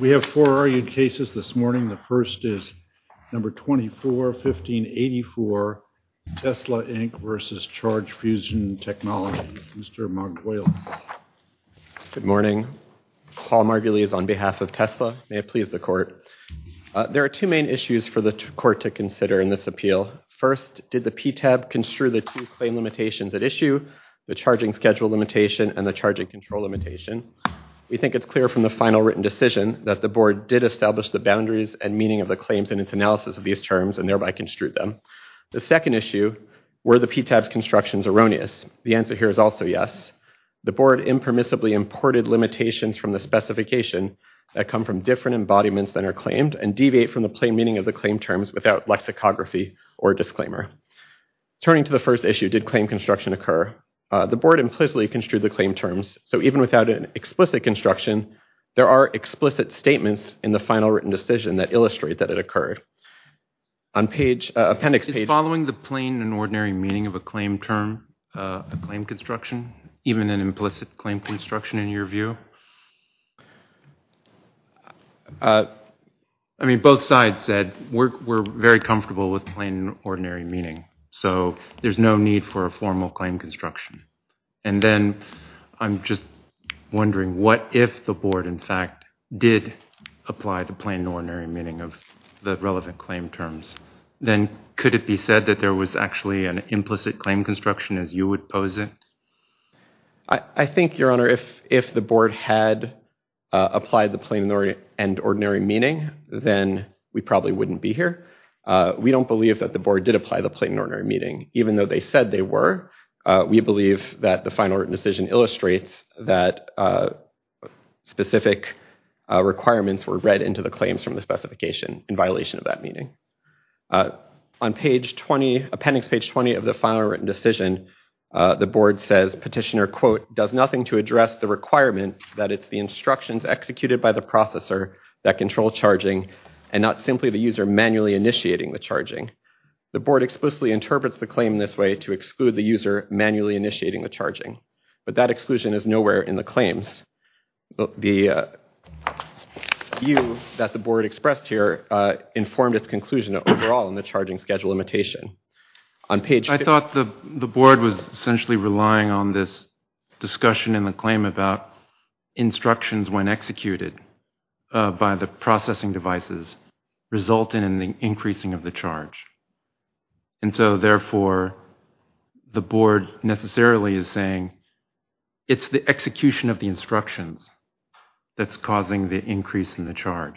We have four argued cases this morning. The first is No. 24-15-84, Tesla, Inc. v. Charge Fusion Technologies. Mr. Margulies. Good morning. Paul Margulies on behalf of Tesla. May it please the Court. There are two main issues for the Court to consider in this appeal. First, did the PTAB construe the two claim limitations at issue, the charging schedule limitation and the charging control limitation? We think it's clear from the final written decision that the Board did establish the boundaries and meaning of the claims in its analysis of these terms and thereby construe them. The second issue, were the PTAB's constructions erroneous? The answer here is also yes. The Board impermissibly imported limitations from the specification that come from different embodiments that are claimed and deviate from the plain meaning of the claim terms without lexicography or disclaimer. Turning to the first issue, did claim construction occur? The Board implicitly construed the claim terms. So even without an explicit construction, there are explicit statements in the final written decision that illustrate that it occurred. Is following the plain and ordinary meaning of a claim term a claim construction, even an implicit claim construction in your view? I mean, both sides said we're very comfortable with plain and ordinary meaning, so there's no need for a formal claim construction. And then I'm just wondering what if the Board, in fact, did apply the plain and ordinary meaning of the relevant claim terms? Then could it be said that there was actually an implicit claim construction as you would pose it? I think, Your Honor, if the Board had applied the plain and ordinary meaning, then we probably wouldn't be here. We don't believe that the Board did apply the plain and ordinary meaning. Even though they said they were, we believe that the final written decision illustrates that specific requirements were read into the claims from the specification in violation of that meaning. On appendix page 20 of the final written decision, the Board says, petitioner, quote, does nothing to address the requirement that it's the instructions executed by the processor that control charging and not simply the user manually initiating the charging. The Board explicitly interprets the claim this way to exclude the user manually initiating the charging, but that exclusion is nowhere in the claims. The view that the Board expressed here informed its conclusion overall in the charging schedule limitation. I thought the Board was essentially relying on this discussion in the claim about instructions when executed by the processing devices resulting in the increasing of the charge. And so, therefore, the Board necessarily is saying it's the execution of the instructions that's causing the increase in the charge.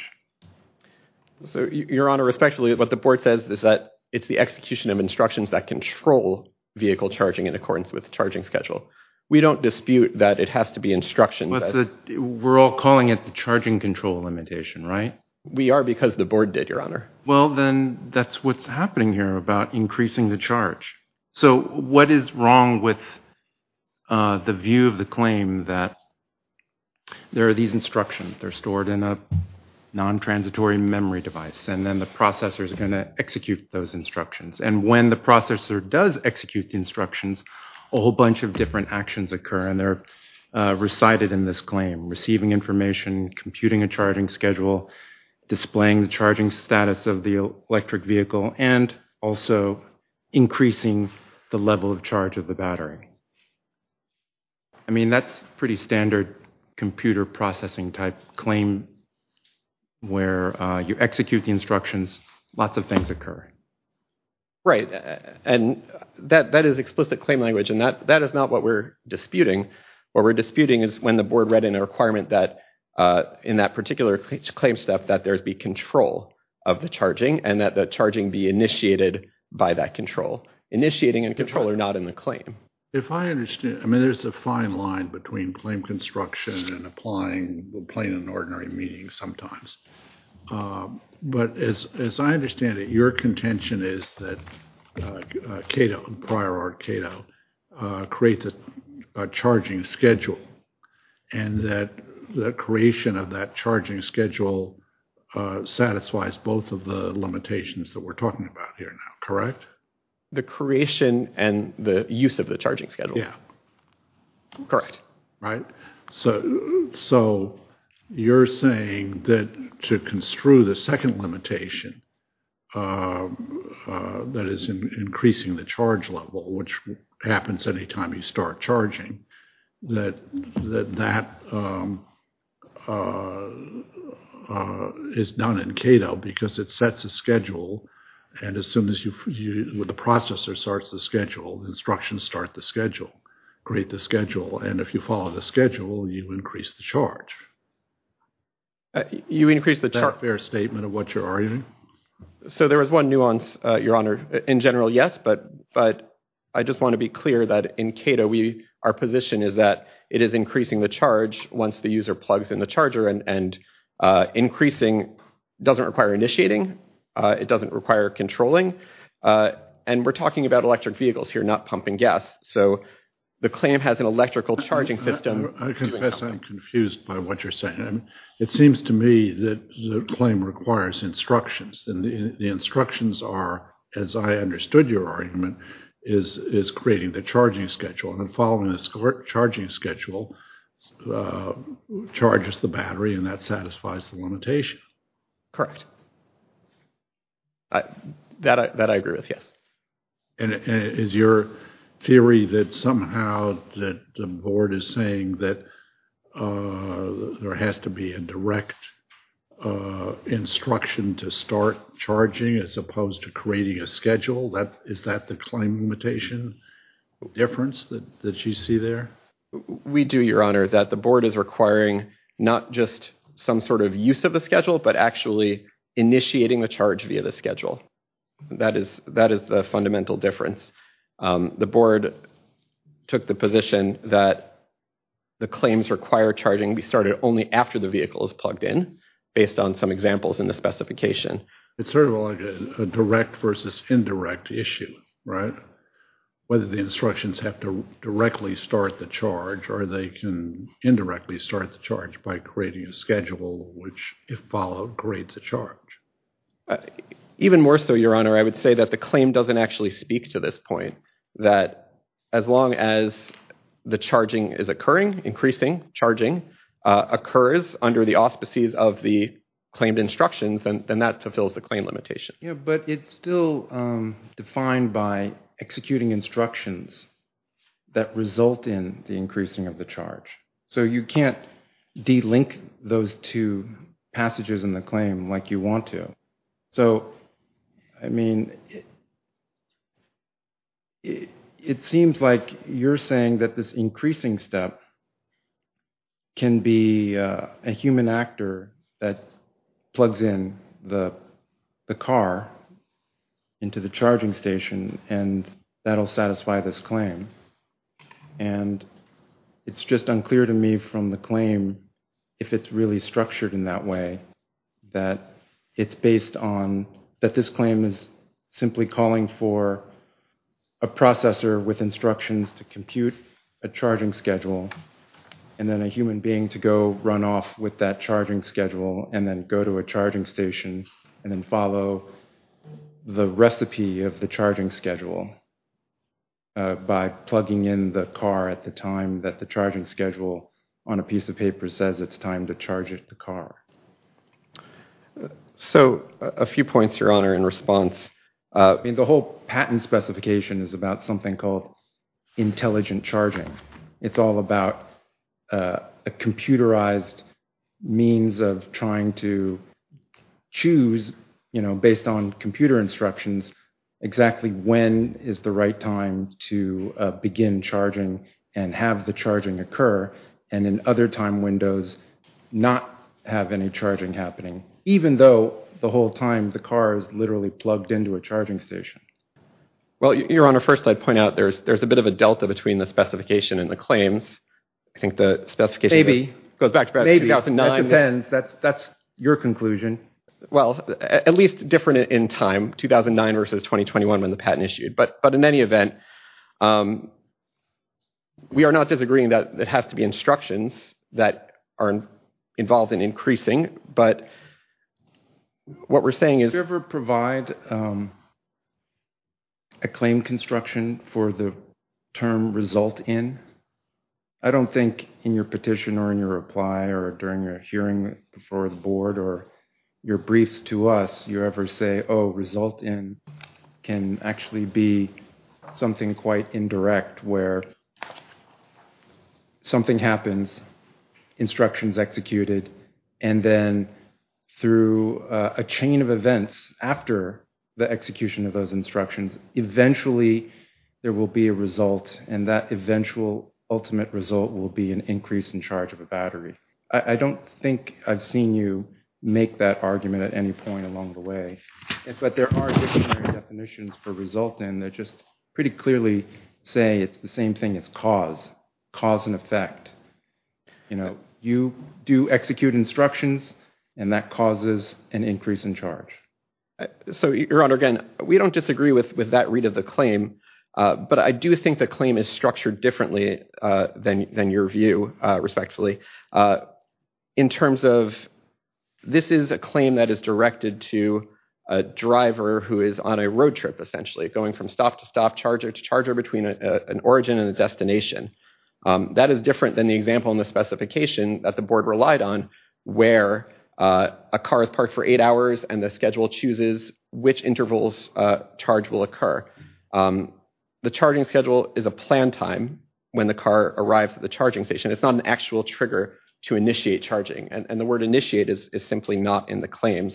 So, Your Honor, respectfully, what the Board says is that it's the execution of instructions that control vehicle charging in accordance with the charging schedule. We don't dispute that it has to be instructions. We're all calling it the charging control limitation, right? We are because the Board did, Your Honor. Well, then, that's what's happening here about increasing the charge. So, what is wrong with the view of the claim that there are these instructions? They're stored in a non-transitory memory device, and then the processor is going to execute those instructions. And when the processor does execute the instructions, a whole bunch of different actions occur, and they're recited in this claim. Receiving information, computing a charging schedule, displaying the charging status of the electric vehicle, and also increasing the level of charge of the battery. I mean, that's pretty standard computer processing type claim where you execute the instructions, lots of things occur. Right, and that is explicit claim language, and that is not what we're disputing. What we're disputing is when the Board read in a requirement that in that particular claim step that there be control of the charging, and that the charging be initiated by that control. Initiating and control are not in the claim. If I understand, I mean, there's a fine line between claim construction and applying plain and ordinary meaning sometimes. But as I understand it, your contention is that Cato, prior art Cato, creates a charging schedule, and that the creation of that charging schedule satisfies both of the limitations that we're talking about here now, correct? The creation and the use of the charging schedule. Correct. So you're saying that to construe the second limitation, that is increasing the charge level, which happens any time you start charging, that that is done in Cato because it sets a schedule, and as soon as the processor starts the schedule, instructions start the schedule, create the schedule, and if you follow the schedule, you increase the charge. You increase the charge. Is that a fair statement of what you're arguing? So there is one nuance, your honor. In general, yes, but I just want to be clear that in Cato, our position is that it is increasing the charge once the user plugs in the charger, and increasing doesn't require initiating. It doesn't require controlling, and we're talking about electric vehicles here, not pumping gas. So the claim has an electrical charging system. I confess I'm confused by what you're saying. It seems to me that the claim requires instructions, and the instructions are, as I understood your argument, is creating the charging schedule, and following the charging schedule charges the battery, and that satisfies the limitation. Correct. That I agree with, yes. And is your theory that somehow the board is saying that there has to be a direct instruction to start charging, as opposed to creating a schedule? Is that the claim limitation difference that you see there? We do, your honor, that the board is requiring not just some sort of use of the schedule, but actually initiating the charge via the schedule. That is the fundamental difference. The board took the position that the claims require charging be started only after the vehicle is plugged in, based on some examples in the specification. It's sort of like a direct versus indirect issue, right? Whether the instructions have to directly start the charge, or they can indirectly start the charge by creating a schedule which, if followed, creates a charge. Even more so, your honor, I would say that the claim doesn't actually speak to this point, that as long as the charging is occurring, increasing charging, occurs under the auspices of the claimed instructions, then that fulfills the claim limitation. Yeah, but it's still defined by executing instructions that result in the increasing of the charge. So you can't de-link those two passages in the claim like you want to. So, I mean, it seems like you're saying that this increasing step can be a human actor that plugs in the car into the charging station, and that'll satisfy this claim. And it's just unclear to me from the claim, if it's really structured in that way, that this claim is simply calling for a processor with instructions to compute a charging schedule, and then a human being to go run off with that charging schedule, and then go to a charging station, and then follow the recipe of the charging schedule by plugging in the car at the time that the charging schedule on a piece of paper says it's time to charge the car. So, a few points, your honor, in response. I mean, the whole patent specification is about something called intelligent charging. It's all about a computerized means of trying to choose, you know, based on computer instructions, exactly when is the right time to begin charging and have the charging occur, and in other time windows, not have any charging happening, even though the whole time the car is literally plugged into a charging station. Well, your honor, first I'd point out there's a bit of a delta between the specification and the claims. I think the specification goes back to 2009. Maybe. That depends. That's your conclusion. Well, at least different in time, 2009 versus 2021 when the patent issued, but in any event, we are not disagreeing that it has to be instructions that are involved in increasing, but what we're saying is... Do you ever provide a claim construction for the term result in? I don't think in your petition or in your reply or during your hearing before the board or your briefs to us, you ever say, oh, result in can actually be something quite indirect where something happens, instructions executed, and then through a chain of events after the execution of those instructions, eventually there will be a result, and that eventual ultimate result will be an increase in charge of a battery. I don't think I've seen you make that argument at any point along the way, but there are definitions for result in that just pretty clearly say it's the same thing as cause. Cause and effect. You do execute instructions, and that causes an increase in charge. So, Your Honor, again, we don't disagree with that read of the claim, but I do think the claim is structured differently than your view, respectfully. In terms of this is a claim that is directed to a driver who is on a road trip, essentially, going from stop to stop, charger to charger between an origin and a destination. That is different than the example in the specification that the board relied on, where a car is parked for eight hours and the schedule chooses which intervals charge will occur. The charging schedule is a planned time when the car arrives at the charging station. It's not an actual trigger to initiate charging, and the word initiate is simply not in the claims.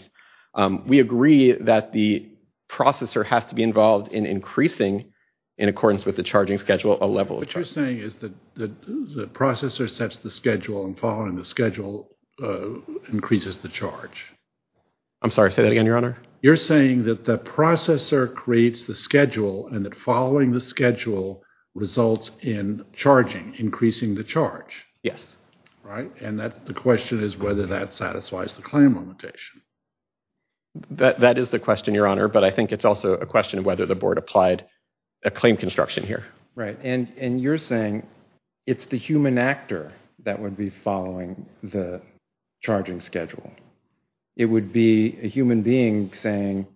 We agree that the processor has to be involved in increasing, in accordance with the charging schedule, a level of charge. What you're saying is that the processor sets the schedule and following the schedule increases the charge. I'm sorry, say that again, Your Honor. You're saying that the processor creates the schedule and that following the schedule results in charging, increasing the charge. Yes. Right, and the question is whether that satisfies the claim limitation. That is the question, Your Honor, but I think it's also a question of whether the board applied a claim construction here. Right, and you're saying it's the human actor that would be following the charging schedule. It would be a human being saying,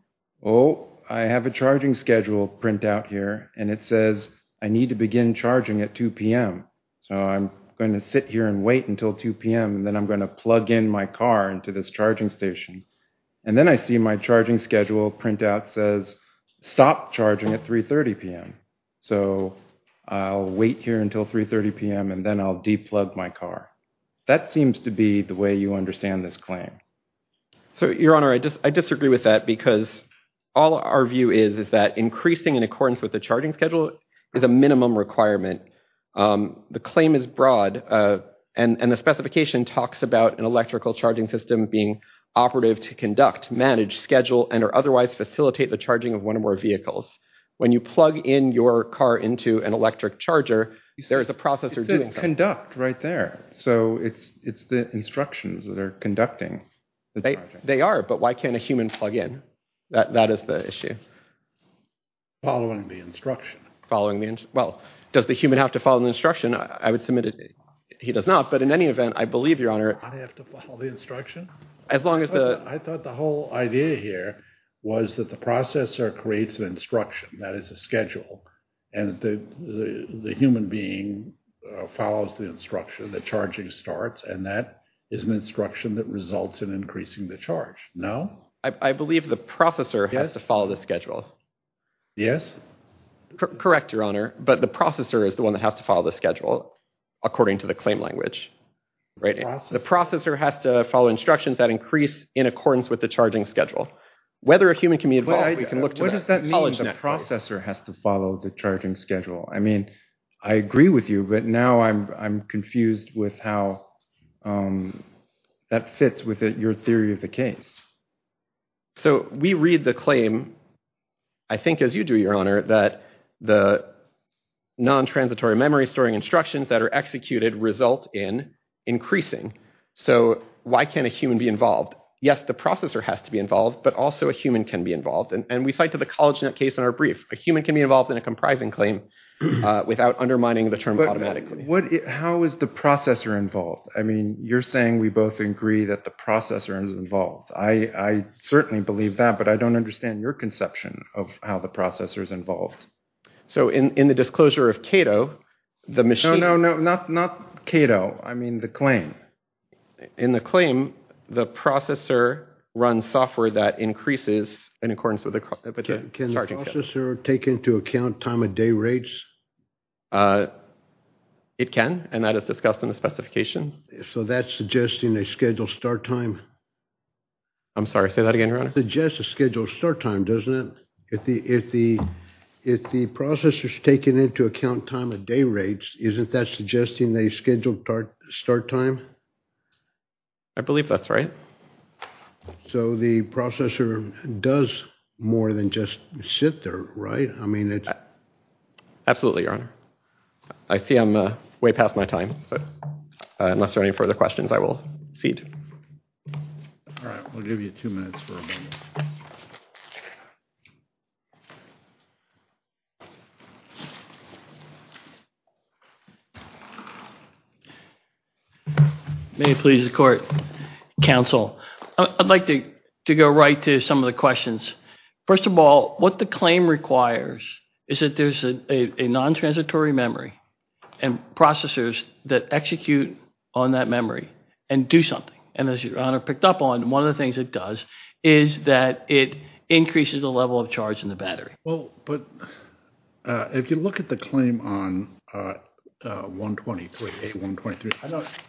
oh, I have a charging schedule printout here, and it says I need to begin charging at 2 p.m., so I'm going to sit here and wait until 2 p.m., and then I'm going to plug in my car into this charging station. And then I see my charging schedule printout says stop charging at 3.30 p.m., so I'll wait here until 3.30 p.m., and then I'll de-plug my car. That seems to be the way you understand this claim. So, Your Honor, I disagree with that because all our view is is that increasing in accordance with the charging schedule is a minimum requirement. The claim is broad, and the specification talks about an electrical charging system being operative to conduct, manage, schedule, and or otherwise facilitate the charging of one or more vehicles. When you plug in your car into an electric charger, there is a processor doing something. It says conduct right there, so it's the instructions that are conducting the charging. They are, but why can't a human plug in? That is the issue. Following the instruction. Well, does the human have to follow the instruction? I would submit he does not, but in any event, I believe, Your Honor... I have to follow the instruction? As long as the... I thought the whole idea here was that the processor creates an instruction, that is a schedule, and the human being follows the instruction, the charging starts, and that is an instruction that results in increasing the charge. No? I believe the processor has to follow the schedule. Yes? Correct, Your Honor, but the processor is the one that has to follow the schedule, according to the claim language. The processor has to follow instructions that increase in accordance with the charging schedule. Whether a human can be involved, we can look to that. What does that mean, the processor has to follow the charging schedule? I mean, I agree with you, but now I'm confused with how that fits with your theory of the case. So, we read the claim, I think as you do, Your Honor, that the non-transitory memory storing instructions that are executed result in increasing. So, why can't a human be involved? Yes, the processor has to be involved, but also a human can be involved, and we cite to the CollegeNet case in our brief. A human can be involved in a comprising claim without undermining the term automatically. How is the processor involved? I mean, you're saying we both agree that the processor is involved. I certainly believe that, but I don't understand your conception of how the processor is involved. So, in the disclosure of Cato, the machine... No, no, no, not Cato, I mean the claim. In the claim, the processor runs software that increases in accordance with the charging schedule. Can the processor take into account time of day rates? It can, and that is discussed in the specification. So, that's suggesting a scheduled start time? I'm sorry, say that again, Your Honor. Suggests a scheduled start time, doesn't it? If the processor is taking into account time of day rates, isn't that suggesting a scheduled start time? I believe that's right. So, the processor does more than just sit there, right? Absolutely, Your Honor. I see I'm way past my time. Unless there are any further questions, I will cede. All right, we'll give you two minutes for a moment. May it please the Court. Counsel, I'd like to go right to some of the questions. First of all, what the claim requires is that there's a non-transitory memory and processors that execute on that memory and do something. And as Your Honor picked up on, one of the things it does is that it increases the level of charge in the battery. Well, but if you look at the claim on A123,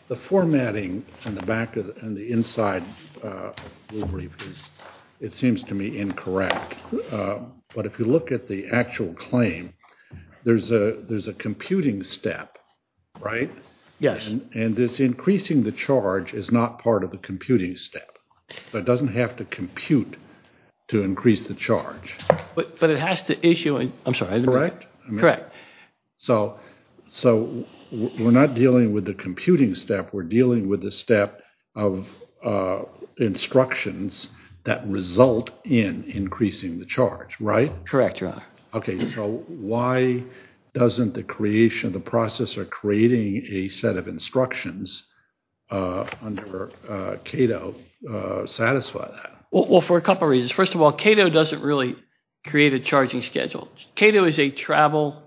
the formatting on the back and the inside, it seems to me incorrect. But if you look at the actual claim, there's a computing step, right? Yes. And this increasing the charge is not part of the computing step. It doesn't have to compute to increase the charge. But it has to issue, I'm sorry. Correct? So we're not dealing with the computing step. We're dealing with the step of instructions that result in increasing the charge, right? Correct, Your Honor. Okay, so why doesn't the creation of the processor creating a set of instructions under Cato satisfy that? Well, for a couple of reasons. First of all, Cato doesn't really create a charging schedule. Cato is a travel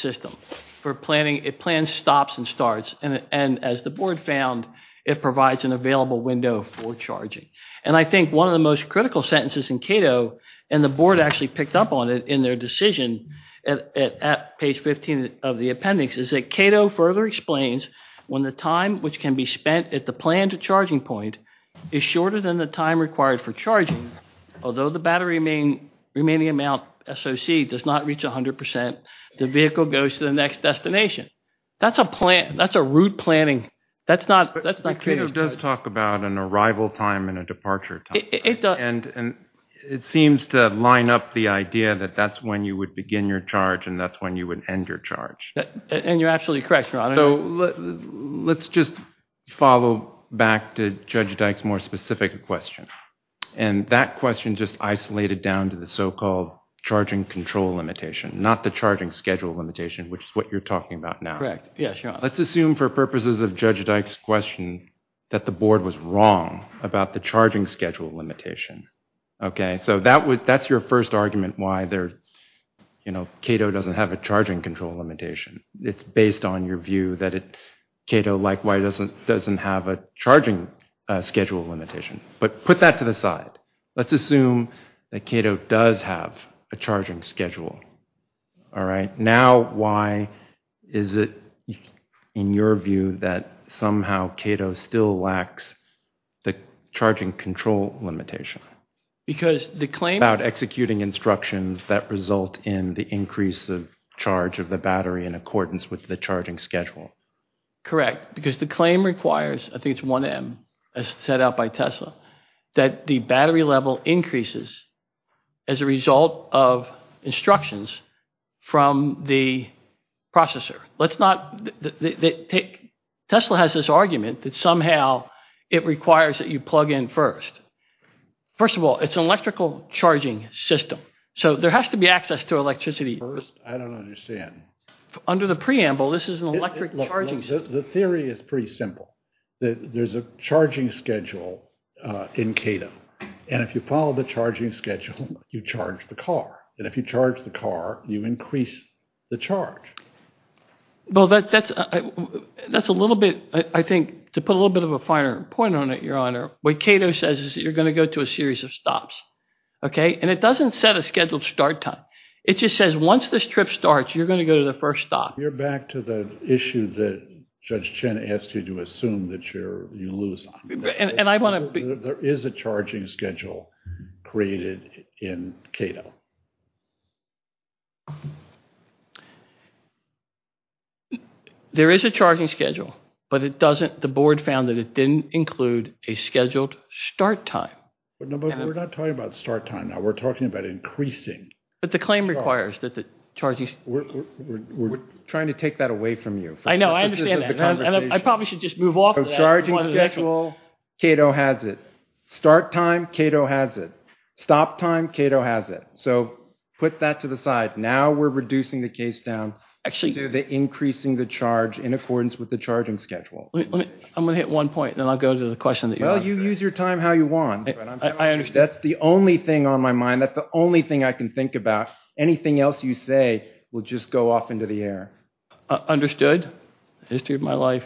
system for planning. It plans stops and starts. And as the board found, it provides an available window for charging. And I think one of the most critical sentences in Cato, and the board actually picked up on it in their decision at page 15 of the appendix, is that Cato further explains when the time which can be spent at the planned charging point is shorter than the time required for charging, although the battery remaining amount, SOC, does not reach 100%, the vehicle goes to the next destination. That's a plan. That's a route planning. That's not Cato's. But Cato does talk about an arrival time and a departure time. It does. And it seems to line up the idea that that's when you would begin your charge and that's when you would end your charge. And you're absolutely correct, Your Honor. So let's just follow back to Judge Dyke's more specific question. And that question just isolated down to the so-called charging control limitation, not the charging schedule limitation, which is what you're talking about now. Yeah, sure. Let's assume for purposes of Judge Dyke's question that the board was wrong about the charging schedule limitation. Okay? So that's your first argument why Cato doesn't have a charging control limitation. It's based on your view that Cato likewise doesn't have a charging schedule limitation. But put that to the side. Let's assume that Cato does have a charging schedule. All right? Now why is it, in your view, that somehow Cato still lacks the charging control limitation? Because the claim about executing instructions that result in the increase of charge of the battery in accordance with the charging schedule. Correct. Correct. Because the claim requires, I think it's 1M, as set out by Tesla, that the battery level increases as a result of instructions from the processor. Tesla has this argument that somehow it requires that you plug in first. First of all, it's an electrical charging system. So there has to be access to electricity first. I don't understand. Under the preamble, this is an electric charging system. The theory is pretty simple. There's a charging schedule in Cato. And if you follow the charging schedule, you charge the car. And if you charge the car, you increase the charge. Well, that's a little bit, I think, to put a little bit of a finer point on it, Your Honor, what Cato says is that you're going to go to a series of stops. Okay? And it doesn't set a scheduled start time. It just says once this trip starts, you're going to go to the first stop. You're back to the issue that Judge Chen asked you to assume that you lose on. There is a charging schedule created in Cato. There is a charging schedule, but the board found that it didn't include a scheduled start time. No, but we're not talking about start time now. We're talking about increasing. But the claim requires that the charging schedule. We're trying to take that away from you. I know. I understand that. I probably should just move off of that. So charging schedule, Cato has it. Start time, Cato has it. Stop time, Cato has it. So put that to the side. Now we're reducing the case down to the increasing the charge in accordance with the charging schedule. I'm going to hit one point, and then I'll go to the question that you have. Well, you use your time how you want. I understand. That's the only thing on my mind. That's the only thing I can think about. Anything else you say will just go off into the air. Understood. History of my life.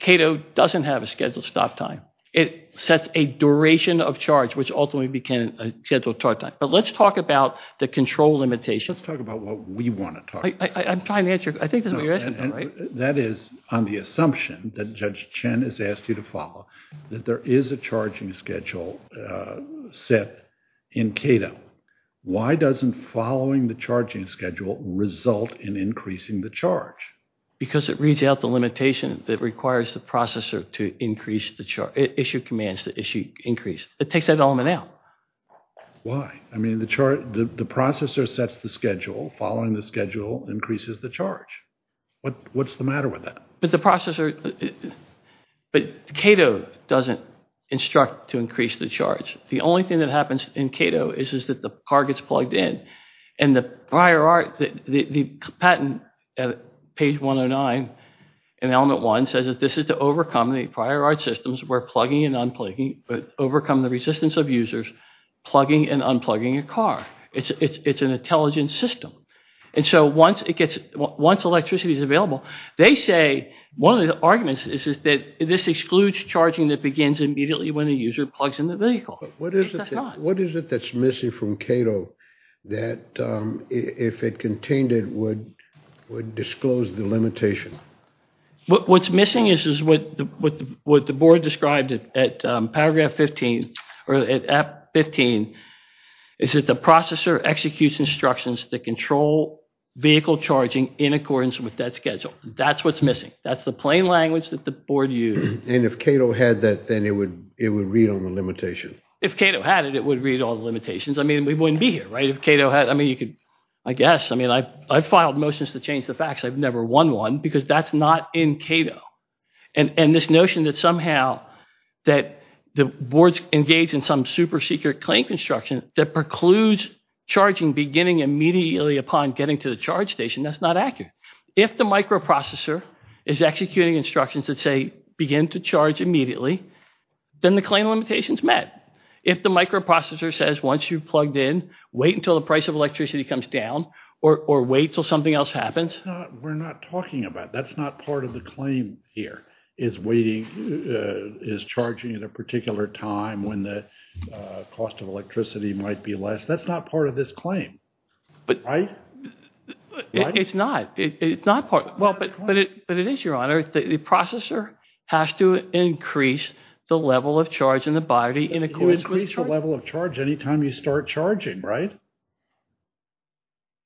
Cato doesn't have a scheduled stop time. It sets a duration of charge, which ultimately became a scheduled start time. But let's talk about the control limitation. Let's talk about what we want to talk about. I'm trying to answer. I think this is what you're asking me, right? That is on the assumption that Judge Chen has asked you to follow, that there is a charging schedule set in Cato. Why doesn't following the charging schedule result in increasing the charge? Because it reads out the limitation that requires the processor to increase the charge, issue commands to increase. It takes that element out. Why? I mean, the processor sets the schedule. Following the schedule increases the charge. What's the matter with that? But Cato doesn't instruct to increase the charge. The only thing that happens in Cato is that the car gets plugged in. And the patent at page 109 in element one says that this is to overcome the prior art systems where plugging and unplugging, but overcome the resistance of users plugging and unplugging a car. It's an intelligent system. And so once electricity is available, they say one of the arguments is that this excludes charging that begins immediately when a user plugs in the vehicle. What is it that's missing from Cato that if it contained it would disclose the limitation? What's missing is what the board described at paragraph 15, is that the processor executes instructions that control vehicle charging in accordance with that schedule. That's what's missing. That's the plain language that the board used. And if Cato had that, then it would read all the limitations. If Cato had it, it would read all the limitations. I mean, we wouldn't be here, right? If Cato had, I mean, you could, I guess. I mean, I filed motions to change the facts. I've never won one because that's not in Cato. And this notion that somehow that the board's engaged in some super secret claim construction that precludes charging beginning immediately upon getting to the charge station, that's not accurate. If the microprocessor is executing instructions that say begin to charge immediately, then the claim limitation's met. If the microprocessor says once you've plugged in, wait until the price of electricity comes down or wait until something else happens. We're not talking about that. That's not part of the claim here, is waiting, is charging at a particular time when the cost of electricity might be less. That's not part of this claim. Right? It's not. It's not part. But it is, Your Honor. The processor has to increase the level of charge in the body in accordance with charge. It will increase the level of charge any time you start charging, right?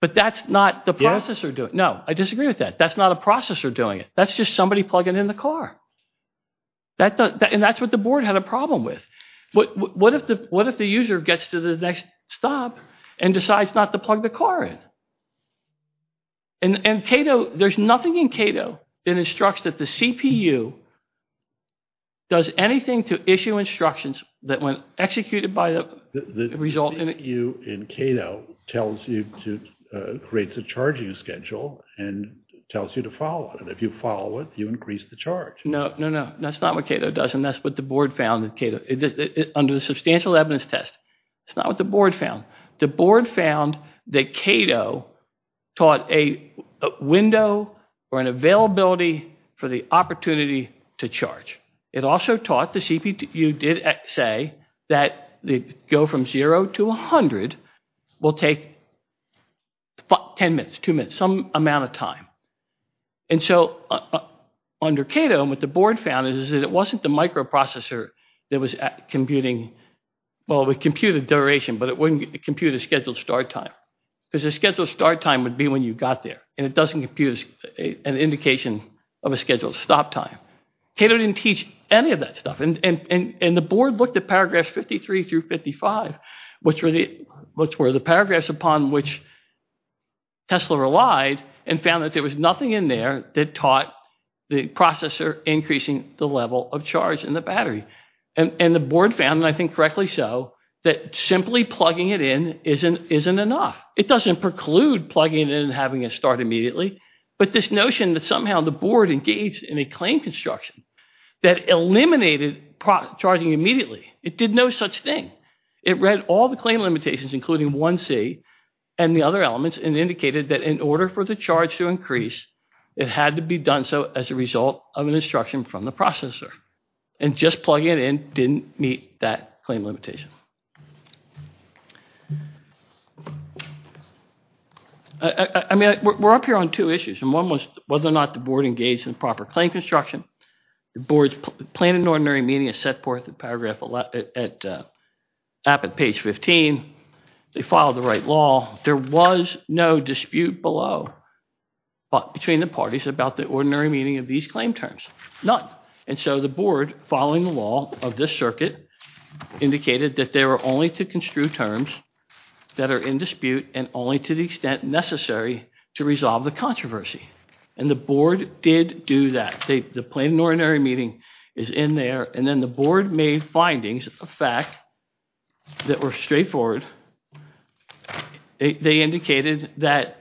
But that's not the processor doing it. No, I disagree with that. That's not a processor doing it. That's just somebody plugging in the car. And that's what the board had a problem with. What if the user gets to the next stop and decides not to plug the car in? And Cato, there's nothing in Cato that instructs that the CPU does anything to issue instructions that when executed by the resultant. The CPU in Cato creates a charging schedule and tells you to follow it. If you follow it, you increase the charge. No, no, no. That's not what Cato does. And that's what the board found in Cato. Under the substantial evidence test, that's not what the board found. The board found that Cato taught a window or an availability for the opportunity to charge. It also taught the CPU did say that the go from 0 to 100 will take 10 minutes, 2 minutes, some amount of time. And so under Cato, what the board found is that it wasn't the microprocessor that was computing. Well, we computed duration, but it wouldn't compute a scheduled start time. Because the scheduled start time would be when you got there. And it doesn't compute an indication of a scheduled stop time. Cato didn't teach any of that stuff. And the board looked at paragraphs 53 through 55, which were the paragraphs upon which Tesla relied and found that there was nothing in there that taught the processor increasing the level of charge in the battery. And the board found, and I think correctly so, that simply plugging it in isn't enough. It doesn't preclude plugging it in and having it start immediately. But this notion that somehow the board engaged in a claim construction that eliminated charging immediately, it did no such thing. It read all the claim limitations, including 1C and the other elements, and indicated that in order for the charge to increase, it had to be done so as a result of an instruction from the processor. And just plugging it in didn't meet that claim limitation. I mean, we're up here on two issues. And one was whether or not the board engaged in proper claim construction. The board planned an ordinary meeting and set forth the paragraph at page 15. They filed the right law. There was no dispute below between the parties about the ordinary meeting of these claim terms. None. And so the board, following the law of this circuit, indicated that they were only to construe terms that are in dispute and only to the extent necessary to resolve the controversy. And the board did do that. The planned ordinary meeting is in there. And then the board made findings of fact that were straightforward. They indicated that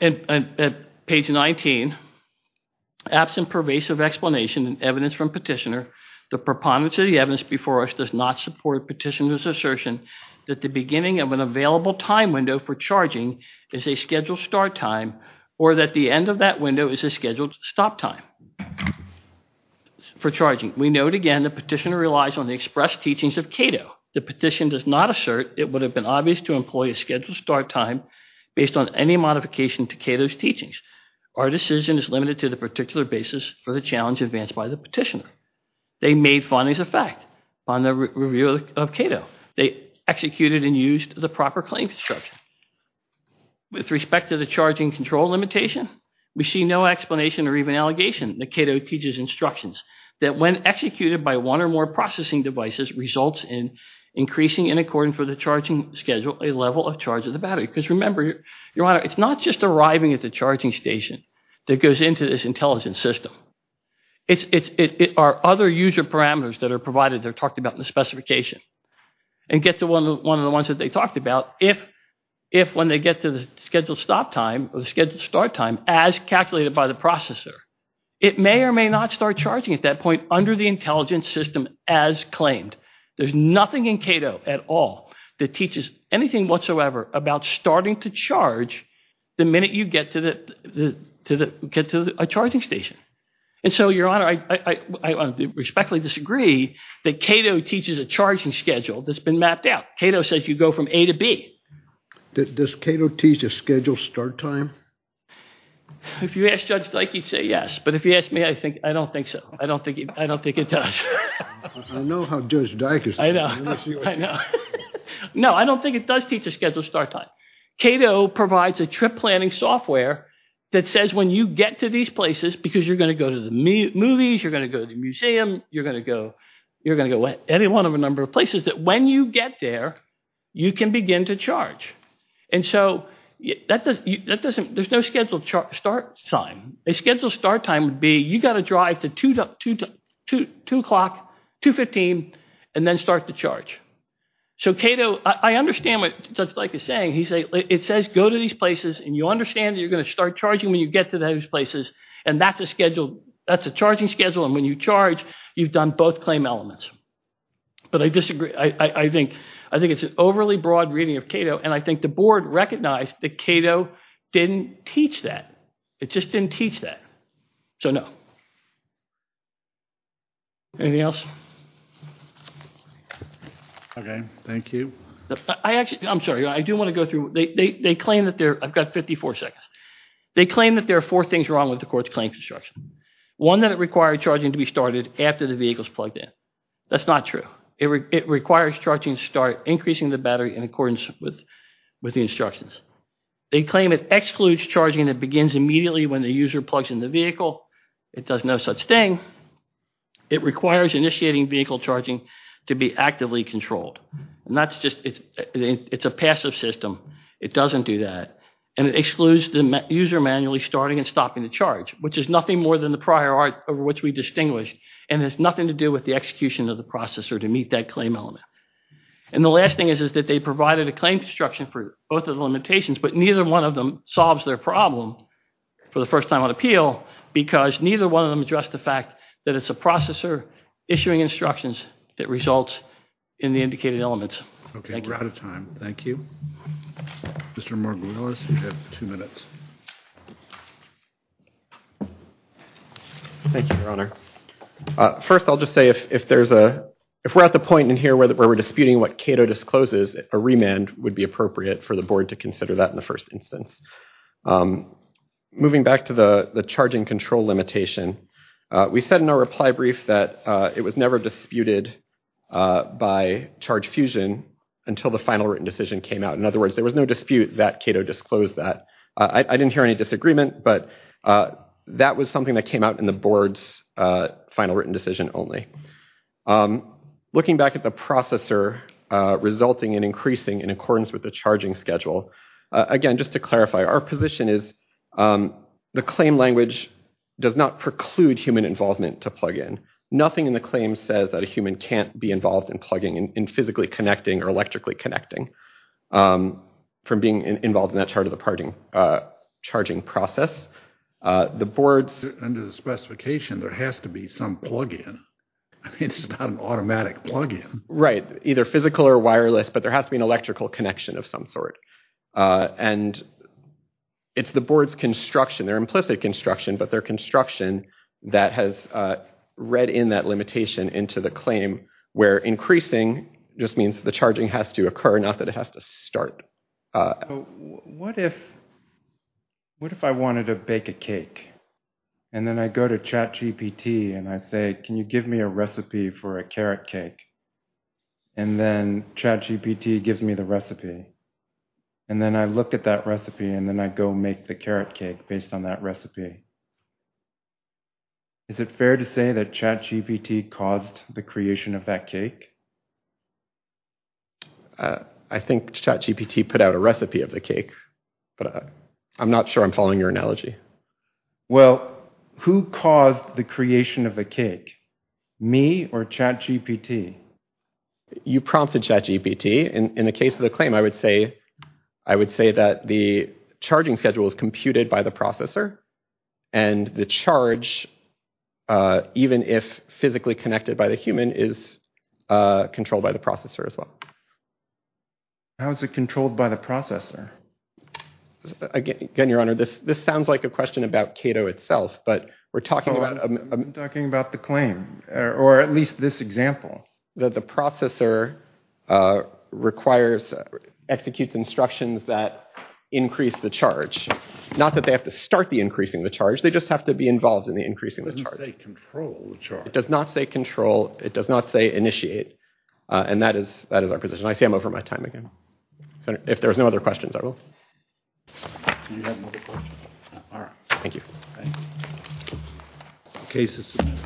at page 19, absent pervasive explanation and evidence from petitioner, the preponderance of the evidence before us does not support petitioner's assertion that the beginning of an available time window for charging is a scheduled start time or that the end of that window is a scheduled stop time for charging. At this point, we note again the petitioner relies on the express teachings of Cato. The petition does not assert it would have been obvious to employ a scheduled start time based on any modification to Cato's teachings. Our decision is limited to the particular basis for the challenge advanced by the petitioner. They made findings of fact on the review of Cato. They executed and used the proper claim construction. With respect to the charging control limitation, we see no explanation or even allegation that Cato teaches instructions that when executed by one or more processing devices results in increasing in accordance with the charging schedule a level of charge of the battery. Because remember, Your Honor, it's not just arriving at the charging station that goes into this intelligence system. It are other user parameters that are provided that are talked about in the specification and get to one of the ones that they talked about if when they get to the scheduled stop time or the scheduled start time as calculated by the processor, it may or may not start charging at that point under the intelligence system as claimed. There's nothing in Cato at all that teaches anything whatsoever about starting to charge the minute you get to a charging station. And so, Your Honor, I respectfully disagree that Cato teaches a charging schedule that's been mapped out. Cato says you go from A to B. Does Cato teach a scheduled start time? If you ask Judge Dyke, he'd say yes. But if you ask me, I don't think so. I don't think it does. I know how Judge Dyke is. No, I don't think it does teach a scheduled start time. Cato provides a trip planning software that says when you get to these places, because you're going to go to the movies, you're going to go to the museum, you're going to go to any one of a number of places, that when you get there, you can begin to charge. And so there's no scheduled start time. A scheduled start time would be you've got to drive to 2 o'clock, 2.15, and then start to charge. So Cato, I understand what Judge Dyke is saying. It says go to these places, and you understand you're going to start charging when you get to those places, and that's a charging schedule, and when you charge, you've done both claim elements. But I disagree. I think it's an overly broad reading of Cato, and I think the board recognized that Cato didn't teach that. It just didn't teach that. So, no. Anything else? Okay, thank you. I'm sorry, I do want to go through. They claim that they're – I've got 54 seconds. They claim that there are four things wrong with the court's claims instruction. One, that it required charging to be started after the vehicle is plugged in. That's not true. Two, it requires charging to start increasing the battery in accordance with the instructions. They claim it excludes charging that begins immediately when the user plugs in the vehicle. It does no such thing. It requires initiating vehicle charging to be actively controlled. And that's just – it's a passive system. It doesn't do that. And it excludes the user manually starting and stopping the charge, which is nothing more than the prior art over which we distinguished, and has nothing to do with the execution of the processor to meet that claim element. And the last thing is that they provided a claim instruction for both of the limitations, but neither one of them solves their problem for the first time on appeal because neither one of them addressed the fact that it's a processor issuing instructions that results in the indicated elements. Okay, we're out of time. Thank you. Mr. Margulis, you have two minutes. Thank you, Your Honor. First, I'll just say if we're at the point in here where we're disputing what Cato discloses, a remand would be appropriate for the board to consider that in the first instance. Moving back to the charging control limitation, we said in our reply brief that it was never disputed by ChargeFusion until the final written decision came out. In other words, there was no dispute that Cato disclosed that. I didn't hear any disagreement, but that was something that came out in the board's final written decision only. Looking back at the processor resulting in increasing in accordance with the charging schedule, again, just to clarify, our position is the claim language does not preclude human involvement to plug in. Nothing in the claim says that a human can't be involved in plugging and physically connecting or electrically connecting from being involved in that charging process. Under the specification, there has to be some plug-in. I mean, it's not an automatic plug-in. Right, either physical or wireless, but there has to be an electrical connection of some sort. And it's the board's construction, their implicit construction, but their construction that has read in that limitation into the claim where increasing just means the charging has to occur, not that it has to start. What if I wanted to bake a cake, and then I go to ChatGPT and I say, can you give me a recipe for a carrot cake? And then ChatGPT gives me the recipe. And then I look at that recipe, and then I go make the carrot cake based on that recipe. Is it fair to say that ChatGPT caused the creation of that cake? I think ChatGPT put out a recipe of the cake, but I'm not sure I'm following your analogy. Well, who caused the creation of the cake? Me or ChatGPT? You prompted ChatGPT. In the case of the claim, I would say that the charging schedule was computed by the processor, and the charge, even if physically connected by the human, is controlled by the processor as well. How is it controlled by the processor? Again, Your Honor, this sounds like a question about Cato itself, but we're talking about the claim, or at least this example. The processor requires, executes instructions that increase the charge, not that they have to start the increasing the charge, they just have to be involved in the increasing the charge. It doesn't say control the charge. It does not say control, it does not say initiate, and that is our position. I see I'm over my time again. If there are no other questions, I will. Do you have another question? All right. Thank you.